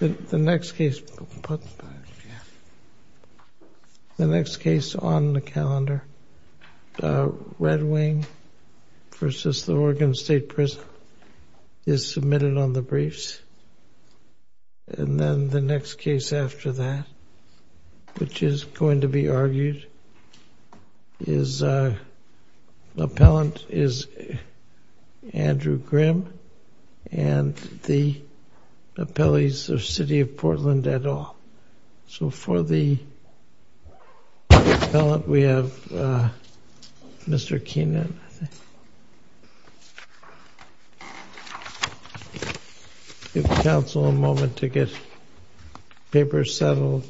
The next case on the calendar, Red Wing v. Oregon State Prison, is submitted on the briefs. And then the next case after that, which is going to be argued, the appellant is Andrew Grimm and the appellees are City of Portland et al. So for the appellant, we have Mr. Keenan. I'll give counsel a moment to get papers settled.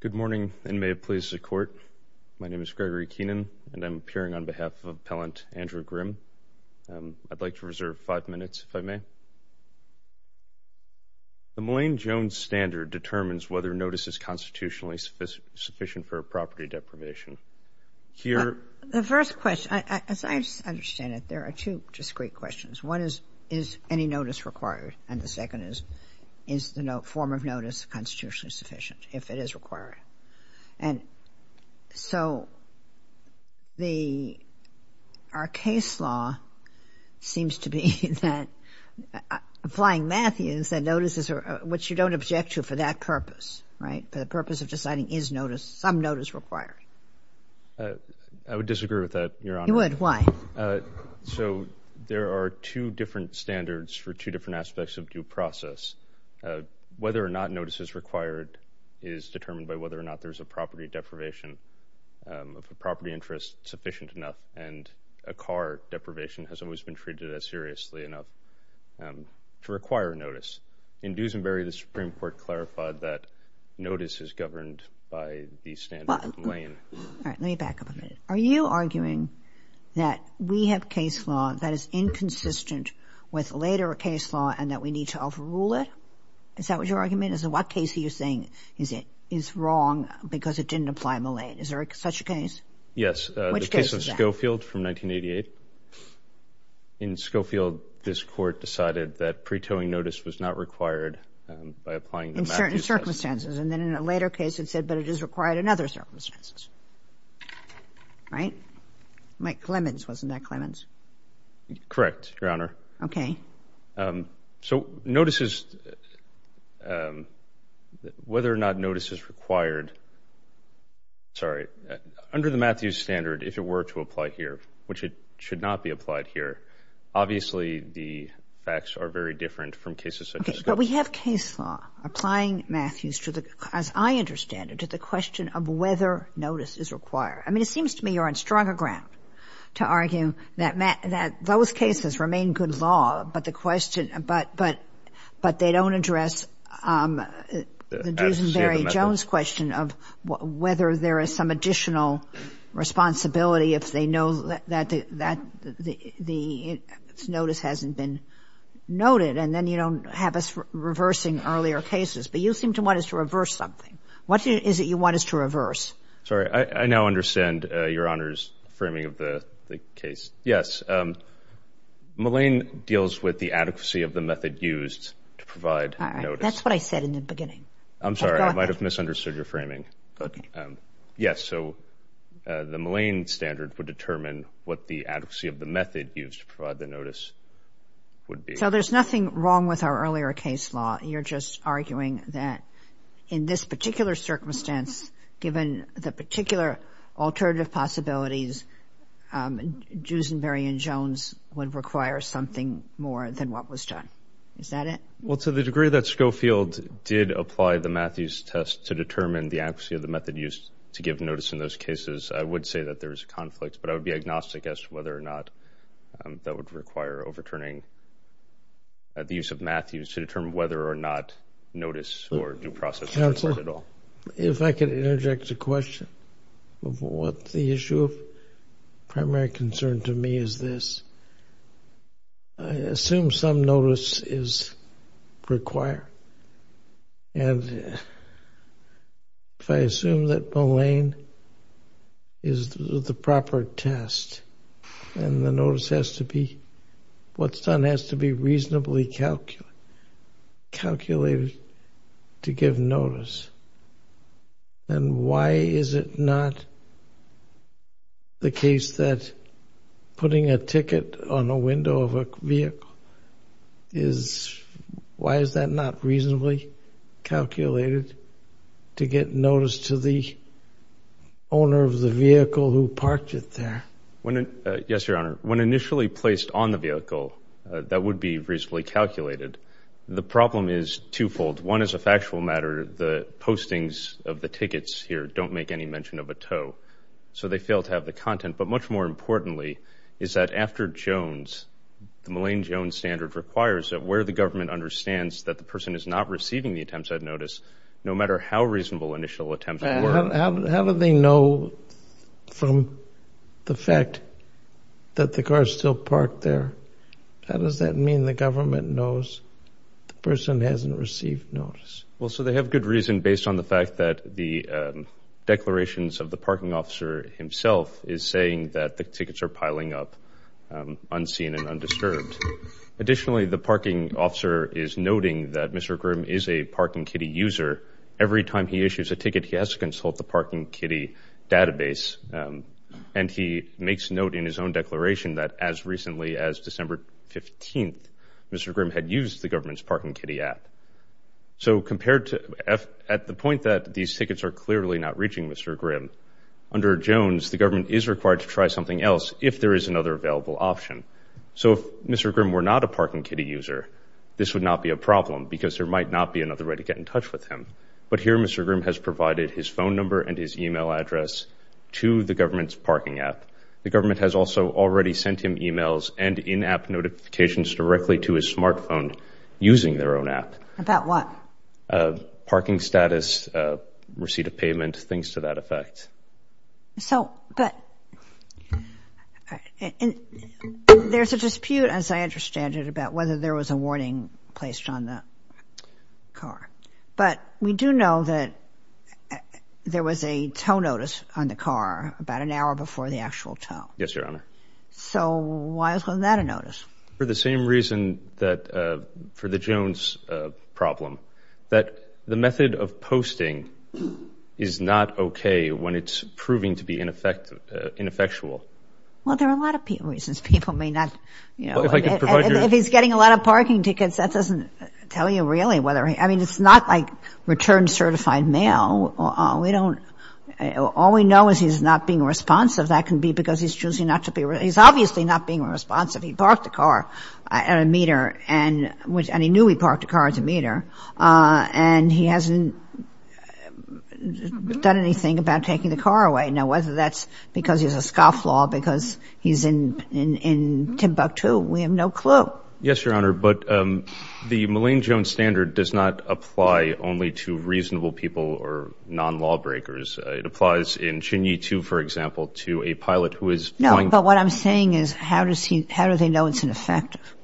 Good morning and may it please the Court. My name is Gregory Keenan and I'm appearing on behalf of Appellant Andrew Grimm. I'd like to reserve five minutes, if I may. The Mullane-Jones Standard determines whether a notice is constitutionally sufficient for a property deprivation. The first question, as I understand it, there are two discrete questions. One is, is any notice required? And the second is, is the form of notice constitutionally sufficient, if it is required? And so the, our case law seems to be that, applying Matthews, that notices are, which you don't object to for that purpose, right? For the purpose of deciding, is notice, some notice required? I would disagree with that, Your Honor. You would? Why? So there are two different standards for two different aspects of due process. Whether or not notice is required is determined by whether or not there's a property deprivation of a property interest sufficient enough. And a car deprivation has always been treated as seriously enough to require notice. In Dusenberry, the Supreme Court clarified that notice is governed by the standard of Mullane. All right, let me back up a minute. Are you arguing that we have case law that is inconsistent with later case law and that we need to overrule it? Is that what your argument is? In what case are you saying is it, is wrong because it didn't apply in Mullane? Is there such a case? Yes. Which case is that? The case of Schofield from 1988. In Schofield, this Court decided that pre-towing notice was not required by applying the Matthews standard. In certain circumstances. And then in a later case it said, but it is required in other circumstances. Right? Mike Clemens, wasn't that Clemens? Correct, Your Honor. Okay. So notices, whether or not notice is required, sorry, under the Matthews standard, if it were to apply here, which it should not be applied here, obviously the facts are very different from cases such as this. Okay. But we have case law applying Matthews to the, as I understand it, to the question of whether notice is required. I mean, it seems to me you're on stronger ground to argue that those cases remain good law, but the question, but they don't address the Duesenberry-Jones question of whether there is some additional responsibility if they know that the notice hasn't been noted, and then you don't have us reversing earlier cases. But you seem to want us to reverse something. What is it you want us to reverse? Sorry. I now understand Your Honor's framing of the case. Yes. Mullane deals with the adequacy of the method used to provide notice. All right. That's what I said in the beginning. I'm sorry. I might have misunderstood your framing. Okay. Yes, so the Mullane standard would determine what the adequacy of the method used to provide the notice would be. So there's nothing wrong with our earlier case law. You're just arguing that in this particular circumstance, given the particular alternative possibilities, Duesenberry and Jones would require something more than what was done. Is that it? Well, to the degree that Schofield did apply the Matthews test to determine the adequacy of the method used to give notice in those cases, I would say that there is a conflict, but I would be agnostic as to whether or not that would require overturning the use of Matthews to determine whether or not notice or due process is required at all. Counselor, if I could interject a question of what the issue of primary concern to me is this. I assume some notice is required, and if I assume that Mullane is the proper test and the notice has to be, what's done has to be reasonably calculated to give notice, then why is it not the case that putting a ticket on a window of a vehicle is, why is that not reasonably calculated to get notice to the owner of the vehicle who parked it there? Yes, Your Honor. When initially placed on the vehicle, that would be reasonably calculated. The problem is twofold. One is a factual matter. The postings of the tickets here don't make any mention of a tow, so they fail to have the content. But much more importantly is that after Jones, the Mullane-Jones standard requires that where the government understands that the person is not receiving the attempts at notice, no matter how reasonable initial attempts were. How do they know from the fact that the car is still parked there? How does that mean the government knows the person hasn't received notice? Well, so they have good reason based on the fact that the declarations of the parking officer himself is saying that the tickets are piling up unseen and undisturbed. Additionally, the parking officer is noting that Mr. Grimm is a Parking Kitty user. Every time he issues a ticket, he has to consult the Parking Kitty database, and he makes note in his own declaration that as recently as December 15th, Mr. Grimm had used the government's Parking Kitty app. So at the point that these tickets are clearly not reaching Mr. Grimm, under Jones, the government is required to try something else if there is another available option. So if Mr. Grimm were not a Parking Kitty user, this would not be a problem because there might not be another way to get in touch with him. But here, Mr. Grimm has provided his phone number and his e-mail address to the government's parking app. The government has also already sent him e-mails and in-app notifications directly to his smartphone using their own app. About what? Parking status, receipt of payment, things to that effect. So, but there's a dispute, as I understand it, about whether there was a warning placed on the car. But we do know that there was a tow notice on the car about an hour before the actual tow. Yes, Your Honor. So why wasn't that a notice? For the same reason that, for the Jones problem, that the method of posting is not okay when it's proving to be ineffectual. Well, there are a lot of reasons. People may not, you know, if he's getting a lot of parking tickets, that doesn't tell you really whether he, I mean, it's not like return-certified mail. We don't, all we know is he's not being responsive. That can be because he's choosing not to be, he's obviously not being responsive. He parked the car at a meter, and he knew he parked the car at a meter, and he hasn't done anything about taking the car away. Now, whether that's because he's a scofflaw, because he's in Timbuktu, we have no clue. Yes, Your Honor. But the Mullane-Jones standard does not apply only to reasonable people or non-lawbreakers. It applies in Chin-Yee 2, for example, to a pilot who is flying. No, but what I'm saying is how does he, how do they know it's ineffective?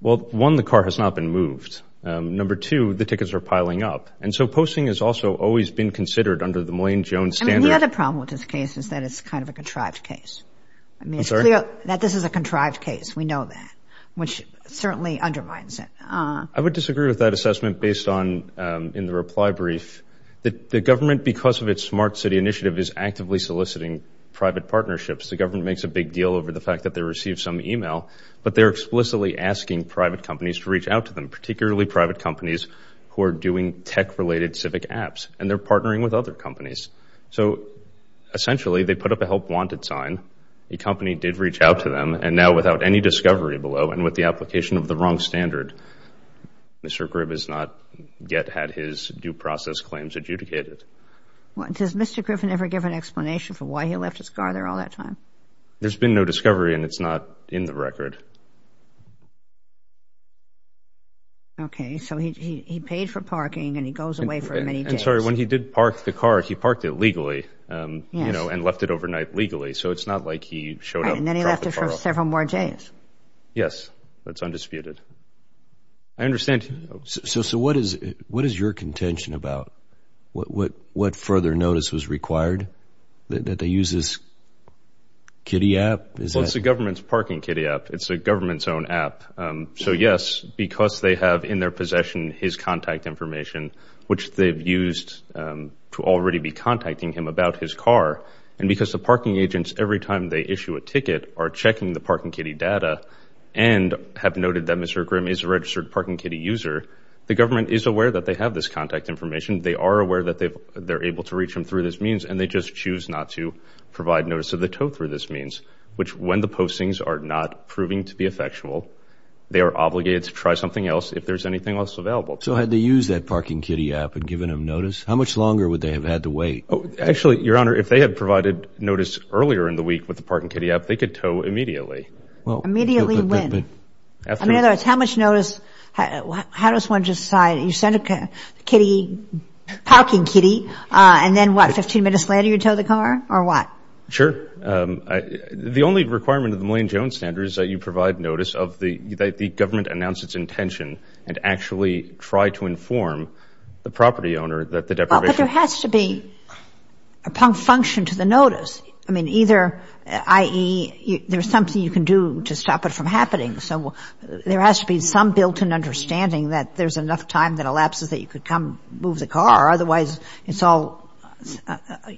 Well, one, the car has not been moved. Number two, the tickets are piling up. And so posting has also always been considered under the Mullane-Jones standard. I mean, the other problem with this case is that it's kind of a contrived case. I mean, it's clear that this is a contrived case. We know that, which certainly undermines it. I would disagree with that assessment based on, in the reply brief, that the government, because of its smart city initiative, is actively soliciting private partnerships. The government makes a big deal over the fact that they receive some e-mail, but they're explicitly asking private companies to reach out to them, particularly private companies who are doing tech-related civic apps, and they're partnering with other companies. So essentially, they put up a help wanted sign. A company did reach out to them, and now without any discovery below and with the application of the wrong standard, Mr. Griffin has not yet had his due process claims adjudicated. Does Mr. Griffin ever give an explanation for why he left his car there all that time? There's been no discovery, and it's not in the record. Okay. So he paid for parking, and he goes away for many days. I'm sorry. When he did park the car, he parked it legally, you know, and left it overnight legally. So it's not like he showed up and dropped the car off. And then he left it for several more days. Yes. That's undisputed. I understand. So what is your contention about what further notice was required, that they use this kiddie app? Well, it's the government's parking kiddie app. It's the government's own app. So, yes, because they have in their possession his contact information, which they've used to already be contacting him about his car, and because the parking agents, every time they issue a ticket, are checking the parking kiddie data and have noted that Mr. Grimm is a registered parking kiddie user, the government is aware that they have this contact information. They are aware that they're able to reach him through this means, and they just choose not to provide notice of the tow through this means, which when the postings are not proving to be effectual, they are obligated to try something else if there's anything else available. So had they used that parking kiddie app and given him notice, how much longer would they have had to wait? Actually, Your Honor, if they had provided notice earlier in the week with the parking kiddie app, they could tow immediately. Immediately when? In other words, how much notice, how does one decide? You send a kiddie, parking kiddie, and then what, 15 minutes later you tow the car, or what? Sure. The only requirement of the Millane-Jones standard is that you provide notice that the government announced its intention and actually try to inform the property owner that the deprivation But there has to be a function to the notice. I mean, either, i.e., there's something you can do to stop it from happening, so there has to be some built-in understanding that there's enough time that elapses that you could come move the car. Otherwise, it's all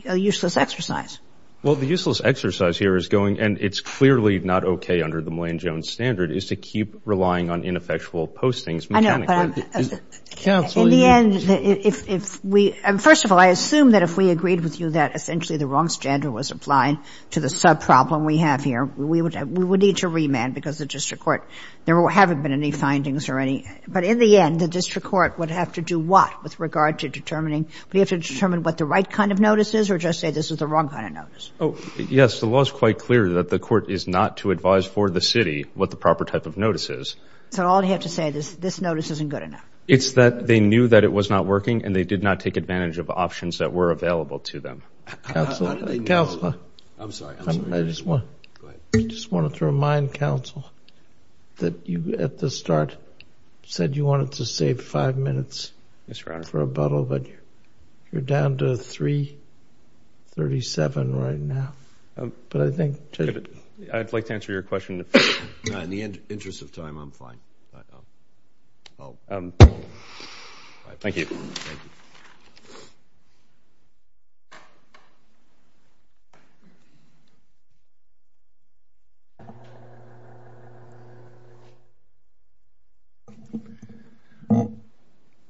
a useless exercise. Well, the useless exercise here is going, and it's clearly not okay under the Millane-Jones standard, is to keep relying on ineffectual postings mechanically. I know, but in the end, if we – First of all, I assume that if we agreed with you that essentially the wrong standard was applied to the subproblem we have here, we would need to remand because the district court – there haven't been any findings or any – but in the end, the district court would have to do what with regard to determining – would it have to determine what the right kind of notice is or just say this is the wrong kind of notice? Yes, the law is quite clear that the court is not to advise for the city what the proper type of notice is. So all you have to say is this notice isn't good enough. It's that they knew that it was not working, and they did not take advantage of options that were available to them. Counselor. Counselor. I'm sorry. I'm sorry. I just want – Go ahead. I just wanted to remind counsel that you at the start said you wanted to save five minutes for rebuttal, but you're down to 337 right now. But I think – I'd like to answer your question. In the interest of time, I'm fine. Oh. Thank you. Thank you.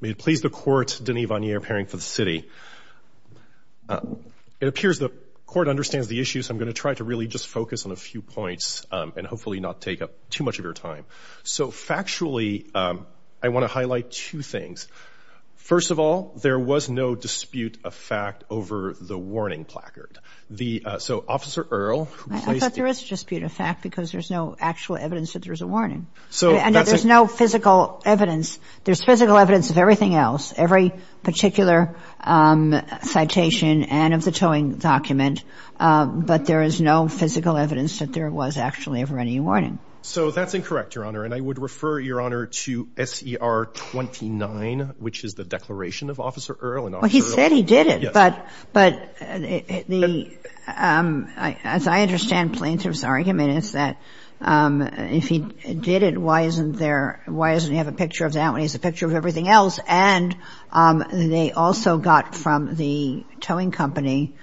May it please the court, Denis Vanier, appearing for the city. It appears the court understands the issue, so I'm going to try to really just focus on a few points and hopefully not take up too much of your time. So factually, I want to highlight two things. First of all, there was no dispute of fact over the warning placard. So Officer Earle, who placed the – I thought there was a dispute of fact because there's no actual evidence that there was a warning. So that's – And that there's no physical evidence. There's physical evidence of everything else, every particular citation and of the towing document, but there is no physical evidence that there was actually ever any warning. So that's incorrect, Your Honor. And I would refer, Your Honor, to SER 29, which is the declaration of Officer Earle and Officer Earle. Well, he said he did it. Yes. But the – as I understand Plaintiff's argument, it's that if he did it, why isn't there – why doesn't he have a picture of that when he has a picture of everything else? And they also got from the towing company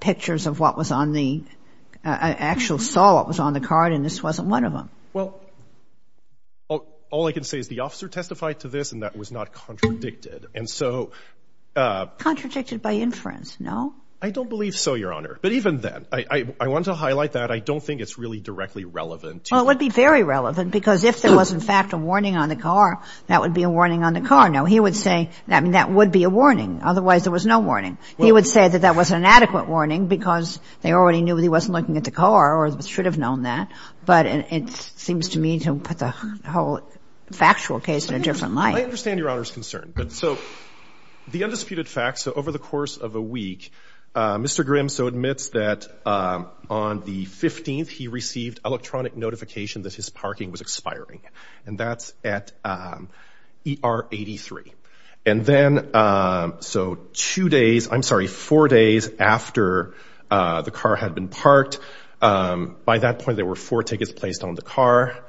pictures of what was on the – actual saw what was on the card, and this wasn't one of them. Well, all I can say is the officer testified to this, and that was not contradicted. And so – Contradicted by inference, no? I don't believe so, Your Honor. But even then, I want to highlight that. I don't think it's really directly relevant. Well, it would be very relevant because if there was, in fact, a warning on the car, that would be a warning on the car. Now, he would say – I mean, that would be a warning. Otherwise, there was no warning. He would say that that was an inadequate warning because they already knew he wasn't looking at the car or should have known that. But it seems to me to put the whole factual case in a different light. I understand Your Honor's concern. But so the undisputed fact, so over the course of a week, Mr. Grim so admits that on the 15th he received electronic notification that his parking was expiring. And that's at ER 83. And then so two days – I'm sorry, four days after the car had been parked, by that point there were four tickets placed on the car.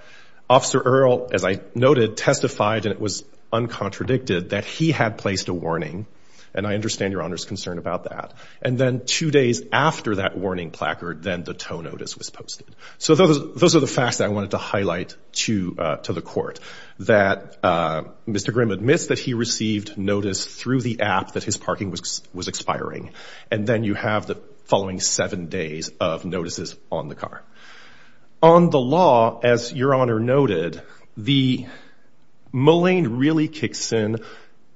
Officer Earle, as I noted, testified, and it was uncontradicted, that he had placed a warning. And I understand Your Honor's concern about that. And then two days after that warning placard, then the tow notice was posted. So those are the facts that I wanted to highlight to the court, that Mr. Grim admits that he received notice through the app that his parking was expiring. And then you have the following seven days of notices on the car. On the law, as Your Honor noted, the Moline really kicks in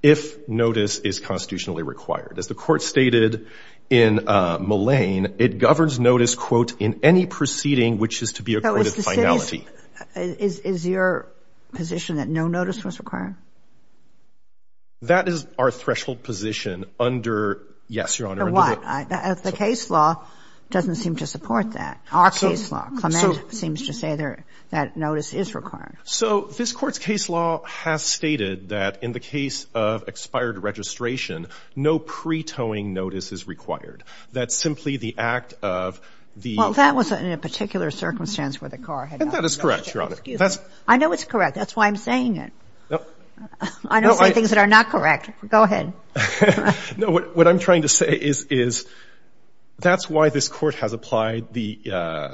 if notice is constitutionally required. As the court stated in Moline, it governs notice, quote, in any proceeding which is to be accorded finality. Is your position that no notice was required? That is our threshold position under – yes, Your Honor. The case law doesn't seem to support that, our case law. Clement seems to say that notice is required. So this Court's case law has stated that in the case of expired registration, no pre-towing notice is required. That's simply the act of the – Well, that was in a particular circumstance where the car had – That is correct, Your Honor. I know it's correct. That's why I'm saying it. I don't say things that are not correct. Go ahead. No. What I'm trying to say is that's why this Court has applied the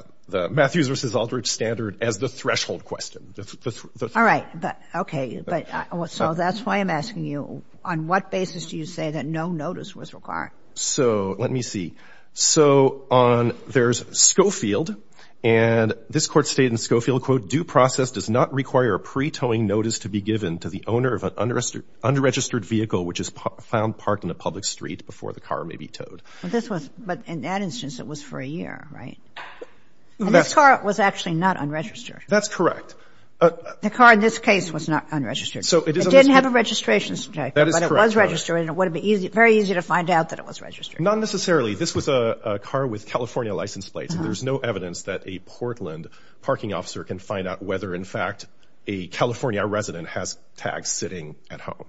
Matthews v. Aldridge standard as the threshold question. All right. Okay. So that's why I'm asking you, on what basis do you say that no notice was required? So let me see. So on – there's Schofield, and this Court stated in Schofield, quote, due process does not require a pre-towing notice to be given to the owner of an unregistered vehicle which is found parked on a public street before the car may be towed. But this was – but in that instance, it was for a year, right? And this car was actually not unregistered. That's correct. The car in this case was not unregistered. It didn't have a registration certificate. That is correct, Your Honor. But it was registered, and it would have been very easy to find out that it was registered. Not necessarily. This was a car with California license plates. There's no evidence that a Portland parking officer can find out whether, in fact, a California resident has tags sitting at home.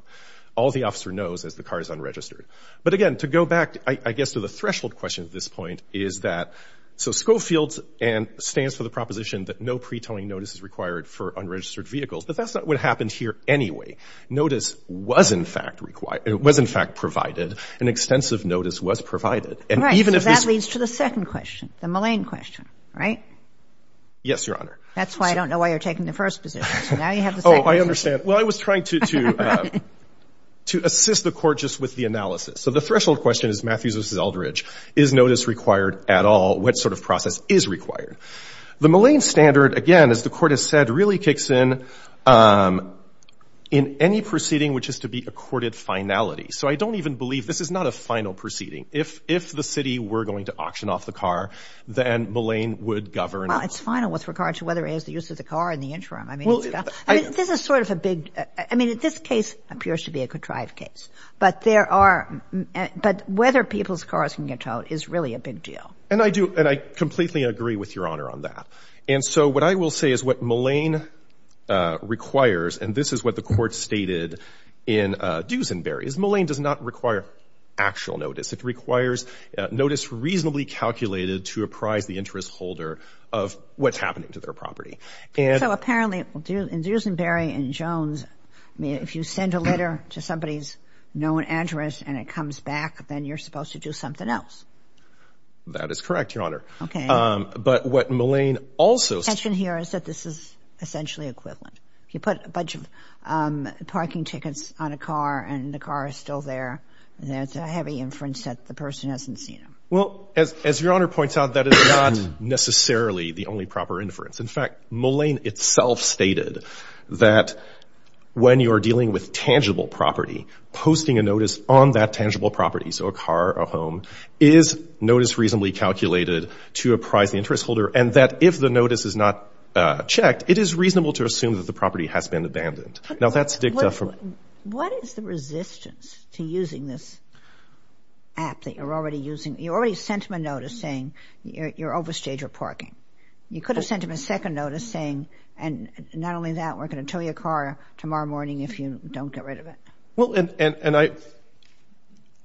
All the officer knows is the car is unregistered. But again, to go back, I guess, to the threshold question at this point is that – and it's in the field and stands for the proposition that no pre-towing notice is required for unregistered vehicles. But that's not what happened here anyway. Notice was, in fact, required – was, in fact, provided. An extensive notice was provided. And even if this – Right. So that leads to the second question, the Moline question, right? Yes, Your Honor. That's why I don't know why you're taking the first position. So now you have the second question. Oh, I understand. Well, I was trying to – to assist the Court just with the analysis. So the threshold question is Matthews v. Aldridge. Is notice required at all? What sort of process is required? The Moline standard, again, as the Court has said, really kicks in in any proceeding which is to be a courted finality. So I don't even believe – this is not a final proceeding. If the city were going to auction off the car, then Moline would govern. Well, it's final with regard to whether it is the use of the car in the interim. I mean, this is sort of a big – I mean, this case appears to be a good drive case. But there are – but whether people's cars can get towed is really a big deal. And I do – and I completely agree with Your Honor on that. And so what I will say is what Moline requires, and this is what the Court stated in Duesenberry, is Moline does not require actual notice. It requires notice reasonably calculated to apprise the interest holder of what's happening to their property. So apparently in Duesenberry and Jones, if you send a letter to somebody's known address and it comes back, then you're supposed to do something else. That is correct, Your Honor. Okay. But what Moline also – The tension here is that this is essentially equivalent. If you put a bunch of parking tickets on a car and the car is still there, that's a heavy inference that the person hasn't seen them. Well, as Your Honor points out, that is not necessarily the only proper inference. In fact, Moline itself stated that when you're dealing with tangible property, posting a notice on that tangible property – so a car, a home – is notice reasonably calculated to apprise the interest holder, and that if the notice is not checked, it is reasonable to assume that the property has been abandoned. Now, that's dicta from – What is the resistance to using this app that you're already using? You already sent him a notice saying you're overstage or parking. You could have sent him a second notice saying, and not only that, we're going to tow your car tomorrow morning if you don't get rid of it. Well, and I –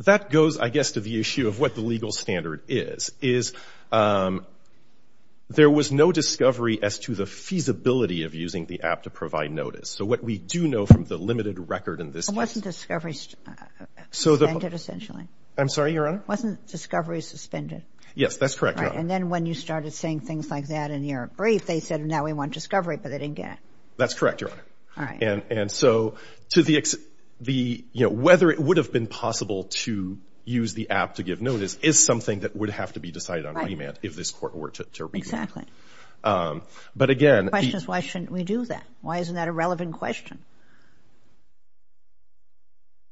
that goes, I guess, to the issue of what the legal standard is, is there was no discovery as to the feasibility of using the app to provide notice. So what we do know from the limited record in this case – It wasn't discovery suspended, essentially. I'm sorry, Your Honor? It wasn't discovery suspended. Yes, that's correct, Your Honor. And then when you started saying things like that in your brief, they said, now we want discovery, but they didn't get it. That's correct, Your Honor. All right. And so to the – whether it would have been possible to use the app to give notice is something that would have to be decided on remand if this Court were to remand. Exactly. But again – The question is, why shouldn't we do that? Why isn't that a relevant question?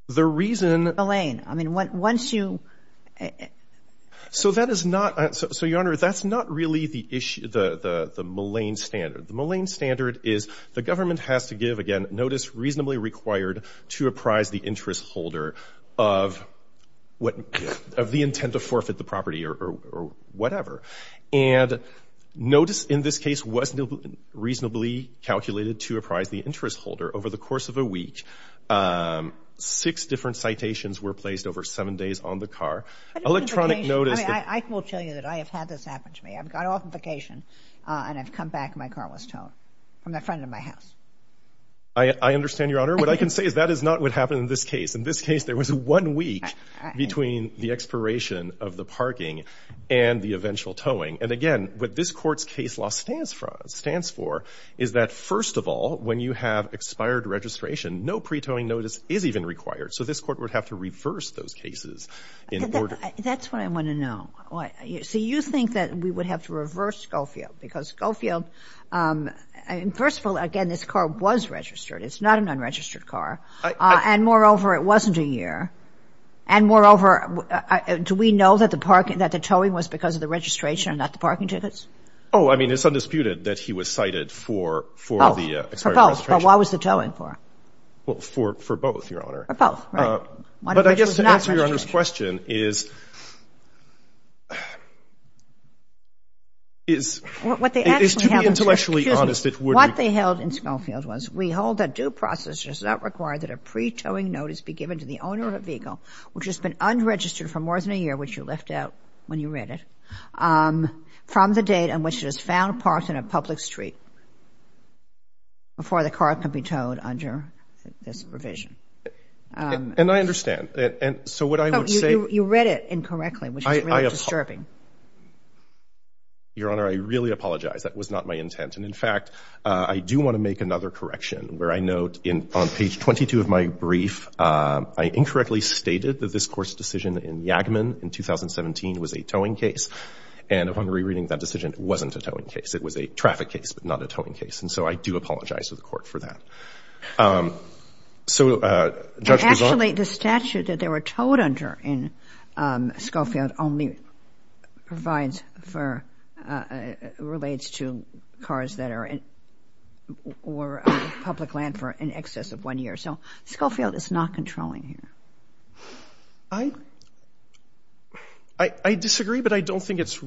The reason – Elaine, I mean, once you – So that is not – so, Your Honor, that's not really the malign standard. The malign standard is the government has to give, again, notice reasonably required to apprise the interest holder of what – of the intent to forfeit the property or whatever. And notice in this case was reasonably calculated to apprise the interest holder. Over the course of a week, six different citations were placed over seven days on the car. Electronic notice – I will tell you that I have had this happen to me. I've gone off on vacation, and I've come back, and my car was towed from the front of my house. I understand, Your Honor. What I can say is that is not what happened in this case. In this case, there was one week between the expiration of the parking and the eventual towing. And again, what this Court's case law stands for is that, first of all, when you have expired registration, no pre-towing notice is even required. So this Court would have to reverse those cases in order – That's what I want to know. So you think that we would have to reverse Schofield because Schofield – first of all, again, this car was registered. It's not an unregistered car. And moreover, it wasn't a year. And moreover, do we know that the parking – that the towing was because of the registration and not the parking tickets? Oh, I mean, it's undisputed that he was cited for the expired registration. Oh, for both. But what was the towing for? Well, for both, Your Honor. For both, right. One of which was not registration. But I guess to answer Your Honor's question is – What they actually have –– is to be intellectually honest, it would be – Excuse me. What they held in Schofield was we hold that due process does not require that a pre-towing notice be given to the owner of a vehicle which has been unregistered for more than a year, which you left out when you read it, from the date on which it is found parked on a public street before the car can be towed under this provision. And I understand. And so what I would say – No, you read it incorrectly, which is really disturbing. Your Honor, I really apologize. That was not my intent. And in fact, I do want to make another correction, where I note on page 22 of my brief, I incorrectly stated that this Court's decision in Yagman in 2017 was a towing case. And upon rereading that decision, it wasn't a towing case. It was a traffic case, but not a towing case. And so I do apologize to the Court for that. So – Actually, the statute that they were towed under in Schofield only provides for – relates to cars that are in – or public land for in excess of one year. So Schofield is not controlling here. I disagree, but I don't think it's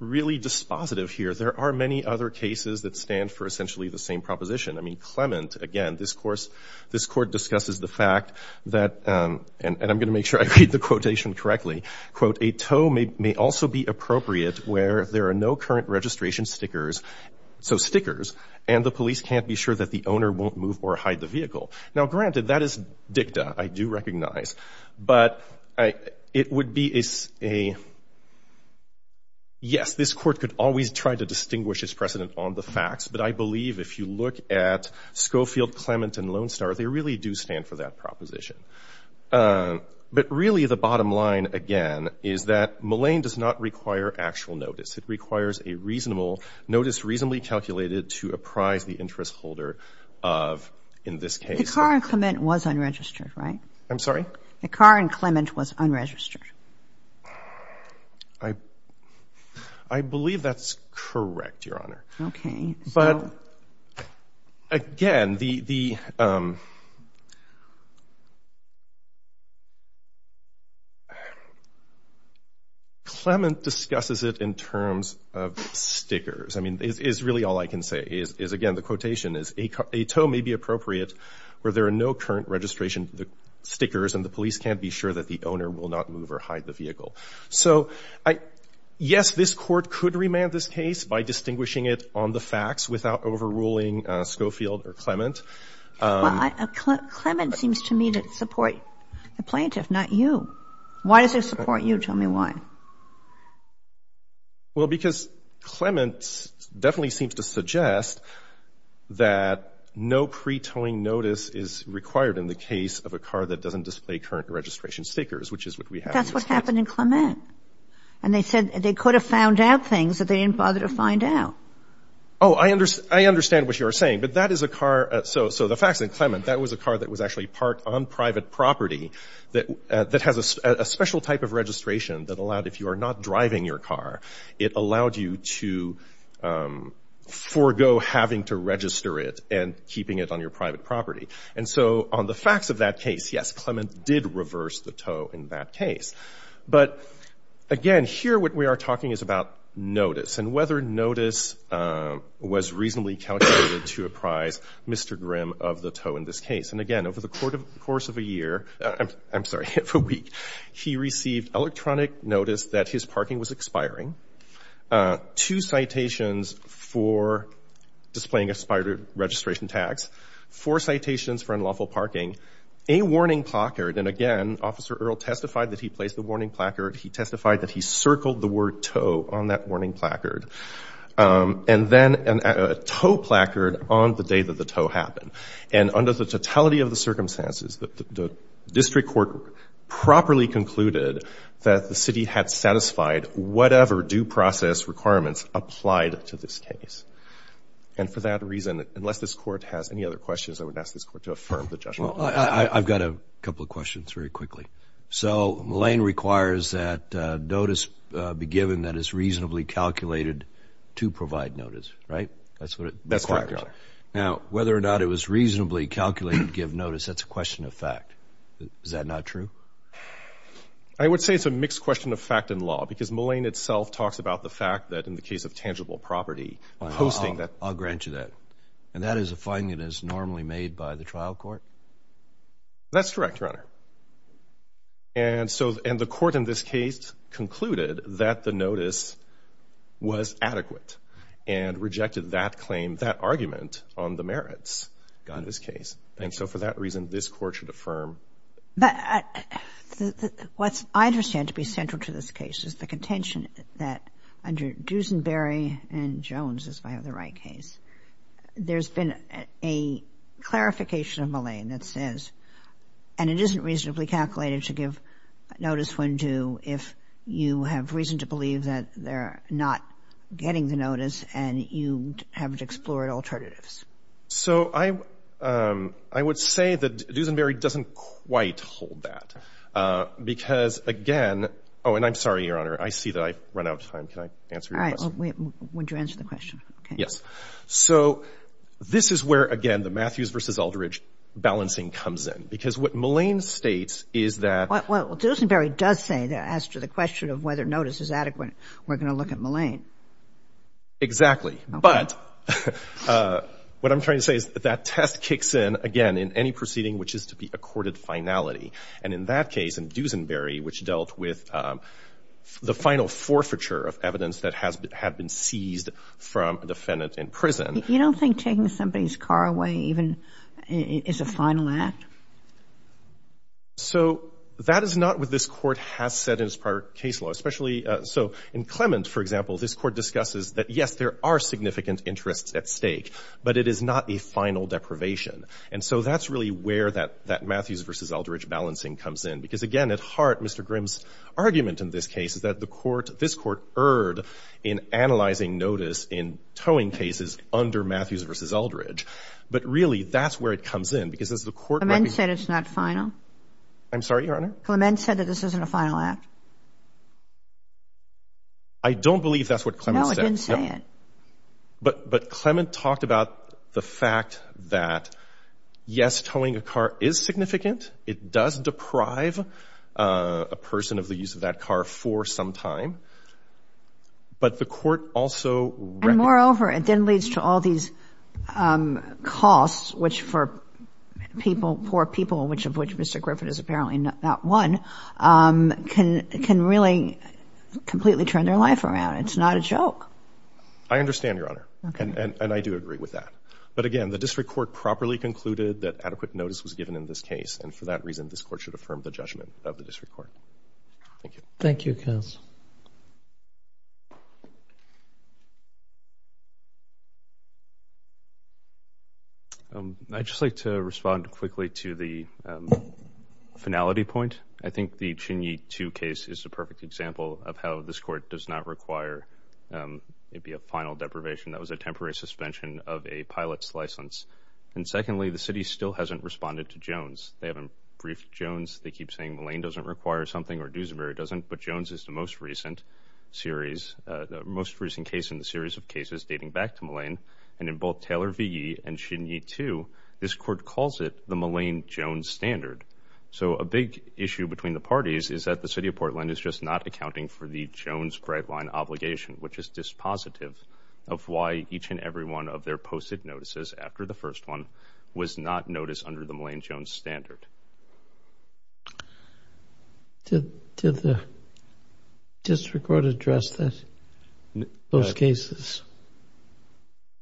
really dispositive here. There are many other cases that stand for essentially the same proposition. I mean, Clement, again, this Court discusses the fact that – and I'm going to make sure I read the quotation correctly – quote, a tow may also be appropriate where there are no current registration stickers – so stickers – and the police can't be sure that the owner won't move or hide the vehicle. Now, granted, that is dicta, I do recognize. But it would be a – yes, this Court could always try to distinguish its precedent on the facts, but I believe if you look at Schofield, Clement, and Lone Star, they really do stand for that proposition. But really, the bottom line, again, is that Mallain does not require actual notice. It requires a reasonable – notice reasonably calculated to apprise the interest holder of, in this case – The car in Clement was unregistered, right? I'm sorry? The car in Clement was unregistered. I believe that's correct, Your Honor. Okay. But, again, the – Clement discusses it in terms of stickers. I mean, it's really all I can say is, again, the quotation is, a tow may be appropriate where there are no current registration stickers and the police can't be sure that the owner will not move or hide the vehicle. So, yes, this Court could remand this case by distinguishing it on the facts without overruling Schofield or Clement. Well, Clement seems to me to support the plaintiff, not you. Why does it support you? Tell me why. Well, because Clement definitely seems to suggest that no pre-towing notice is required in the case of a car that doesn't display current registration stickers, which is what we have in this case. That's what happened in Clement. And they said they could have found out things that they didn't bother to find out. Oh, I understand what you are saying. But that is a car – so the facts in Clement, that was a car that was actually parked on private property that has a special type of registration that allowed – if you are not driving your car, it allowed you to forego having to register it and keeping it on your private property. And so on the facts of that case, yes, Clement did reverse the tow in that case. But, again, here what we are talking is about notice and whether notice was reasonably calculated to apprise Mr. Grimm of the tow in this case. And, again, over the course of a year – I'm sorry, of a week, he received electronic notice that his parking was expiring, two citations for displaying expired registration tags, four citations for unlawful parking, a warning placard. And, again, Officer Earle testified that he placed the warning placard. He testified that he circled the word tow on that warning placard. And then a tow placard on the day that the tow happened. And under the totality of the circumstances, the district court properly concluded that the city had satisfied whatever due process requirements applied to this case. And for that reason, unless this court has any other questions, I would ask this court to affirm the judgment. Well, I've got a couple of questions very quickly. So Mullane requires that notice be given that is reasonably calculated to provide notice, right? That's what it requires. That's correct, Your Honor. Now, whether or not it was reasonably calculated to give notice, that's a question of fact. Is that not true? I would say it's a mixed question of fact and law because Mullane itself talks about the fact that in the case of tangible property, posting that. I'll grant you that. And that is a finding that is normally made by the trial court? That's correct, Your Honor. And so the court in this case concluded that the notice was adequate and rejected that claim, that argument on the merits in this case. And so for that reason, this court should affirm. But what I understand to be central to this case is the contention that under Duesenberry and Jones, if I have the right case, there's been a clarification of Mullane that says and it isn't reasonably calculated to give notice when due if you have reason to believe that they're not getting the notice and you haven't explored alternatives. So I would say that Duesenberry doesn't quite hold that because, again Oh, and I'm sorry, Your Honor. I see that I've run out of time. Can I answer your question? All right. Would you answer the question? Yes. So this is where, again, the Matthews v. Aldridge balancing comes in because what Mullane states is that Well, Duesenberry does say that as to the question of whether notice is adequate, we're going to look at Mullane. Exactly. But what I'm trying to say is that that test kicks in, again, in any proceeding which is to be a courted finality. And in that case, in Duesenberry, which dealt with the final forfeiture of evidence that had been seized from a defendant in prison You don't think taking somebody's car away even is a final act? So that is not what this court has said in its prior case law, especially So in Clement, for example, this court discusses that, yes, there are significant interests at stake, but it is not a final deprivation. And so that's really where that Matthews v. Aldridge balancing comes in. Because, again, at heart, Mr. Grimm's argument in this case is that the court This court erred in analyzing notice in towing cases under Matthews v. Aldridge. But, really, that's where it comes in. Clement said it's not final? I'm sorry, Your Honor? Clement said that this isn't a final act. I don't believe that's what Clement said. No, it didn't say it. But Clement talked about the fact that, yes, towing a car is significant. It does deprive a person of the use of that car for some time. But the court also reckoned And, moreover, it then leads to all these costs, which for people, poor people, which of which Mr. Griffith is apparently not one, can really completely turn their life around. It's not a joke. I understand, Your Honor. And I do agree with that. But, again, the district court properly concluded that adequate notice was given in this case. And, for that reason, this court should affirm the judgment of the district court. Thank you. Thank you, counsel. I'd just like to respond quickly to the finality point. I think the Chinyi 2 case is a perfect example of how this court does not require maybe a final deprivation. That was a temporary suspension of a pilot's license. And, secondly, the city still hasn't responded to Jones. They haven't briefed Jones. They keep saying Mullane doesn't require something or Duesenberg doesn't. But Jones is the most responsive. The most recent case in the series of cases dating back to Mullane, and in both Taylor v. Yee and Chinyi 2, this court calls it the Mullane-Jones standard. So a big issue between the parties is that the city of Portland is just not accounting for the Jones bright line obligation, which is dispositive of why each and every one of their posted notices after the first one was not noticed under the Mullane-Jones standard. Did the district court address those cases?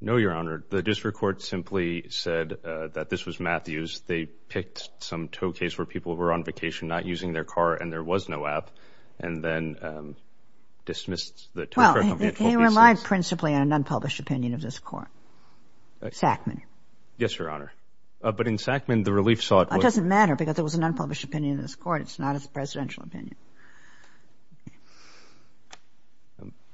No, Your Honor. The district court simply said that this was Matthews. They picked some tow case where people were on vacation, not using their car, and there was no app, and then dismissed the tow car company at 12 p.m. Well, he relied principally on an unpublished opinion of this court, Sackman. Yes, Your Honor. But in Sackman, the relief sought was It doesn't matter because there was an unpublished opinion of this court. It's not his presidential opinion.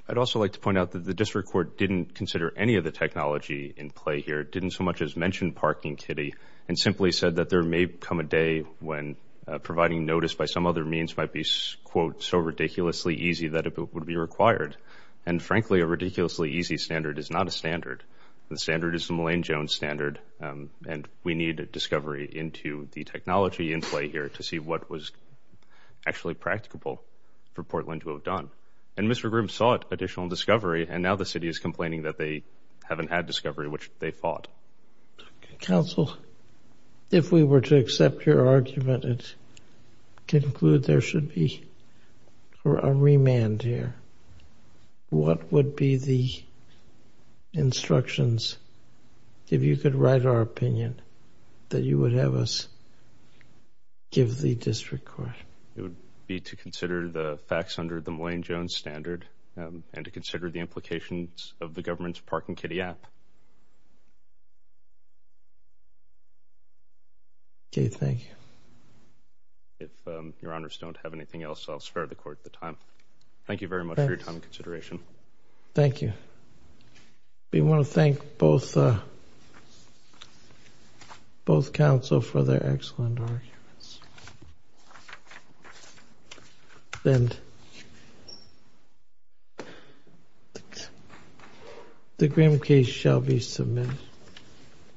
I'd also like to point out that the district court didn't consider any of the technology in play here, didn't so much as mention parking kitty, and simply said that there may come a day when providing notice by some other means might be, quote, so ridiculously easy that it would be required. And frankly, a ridiculously easy standard is not a standard. The standard is the Mullane-Jones standard, and we needed discovery into the technology in play here to see what was actually practicable for Portland to have done. And Mr. Grimm sought additional discovery, and now the city is complaining that they haven't had discovery, which they fought. Counsel, if we were to accept your argument and conclude there should be a remand here, what would be the instructions? If you could write our opinion that you would have us give the district court. It would be to consider the facts under the Mullane-Jones standard, and to consider the implications of the government's parking kitty app. Okay, thank you. If your honors don't have anything else, I'll spare the court the time. Thank you very much for your time and consideration. Thank you. We want to thank both counsel for their excellent arguments. The Grimm case shall be submitted.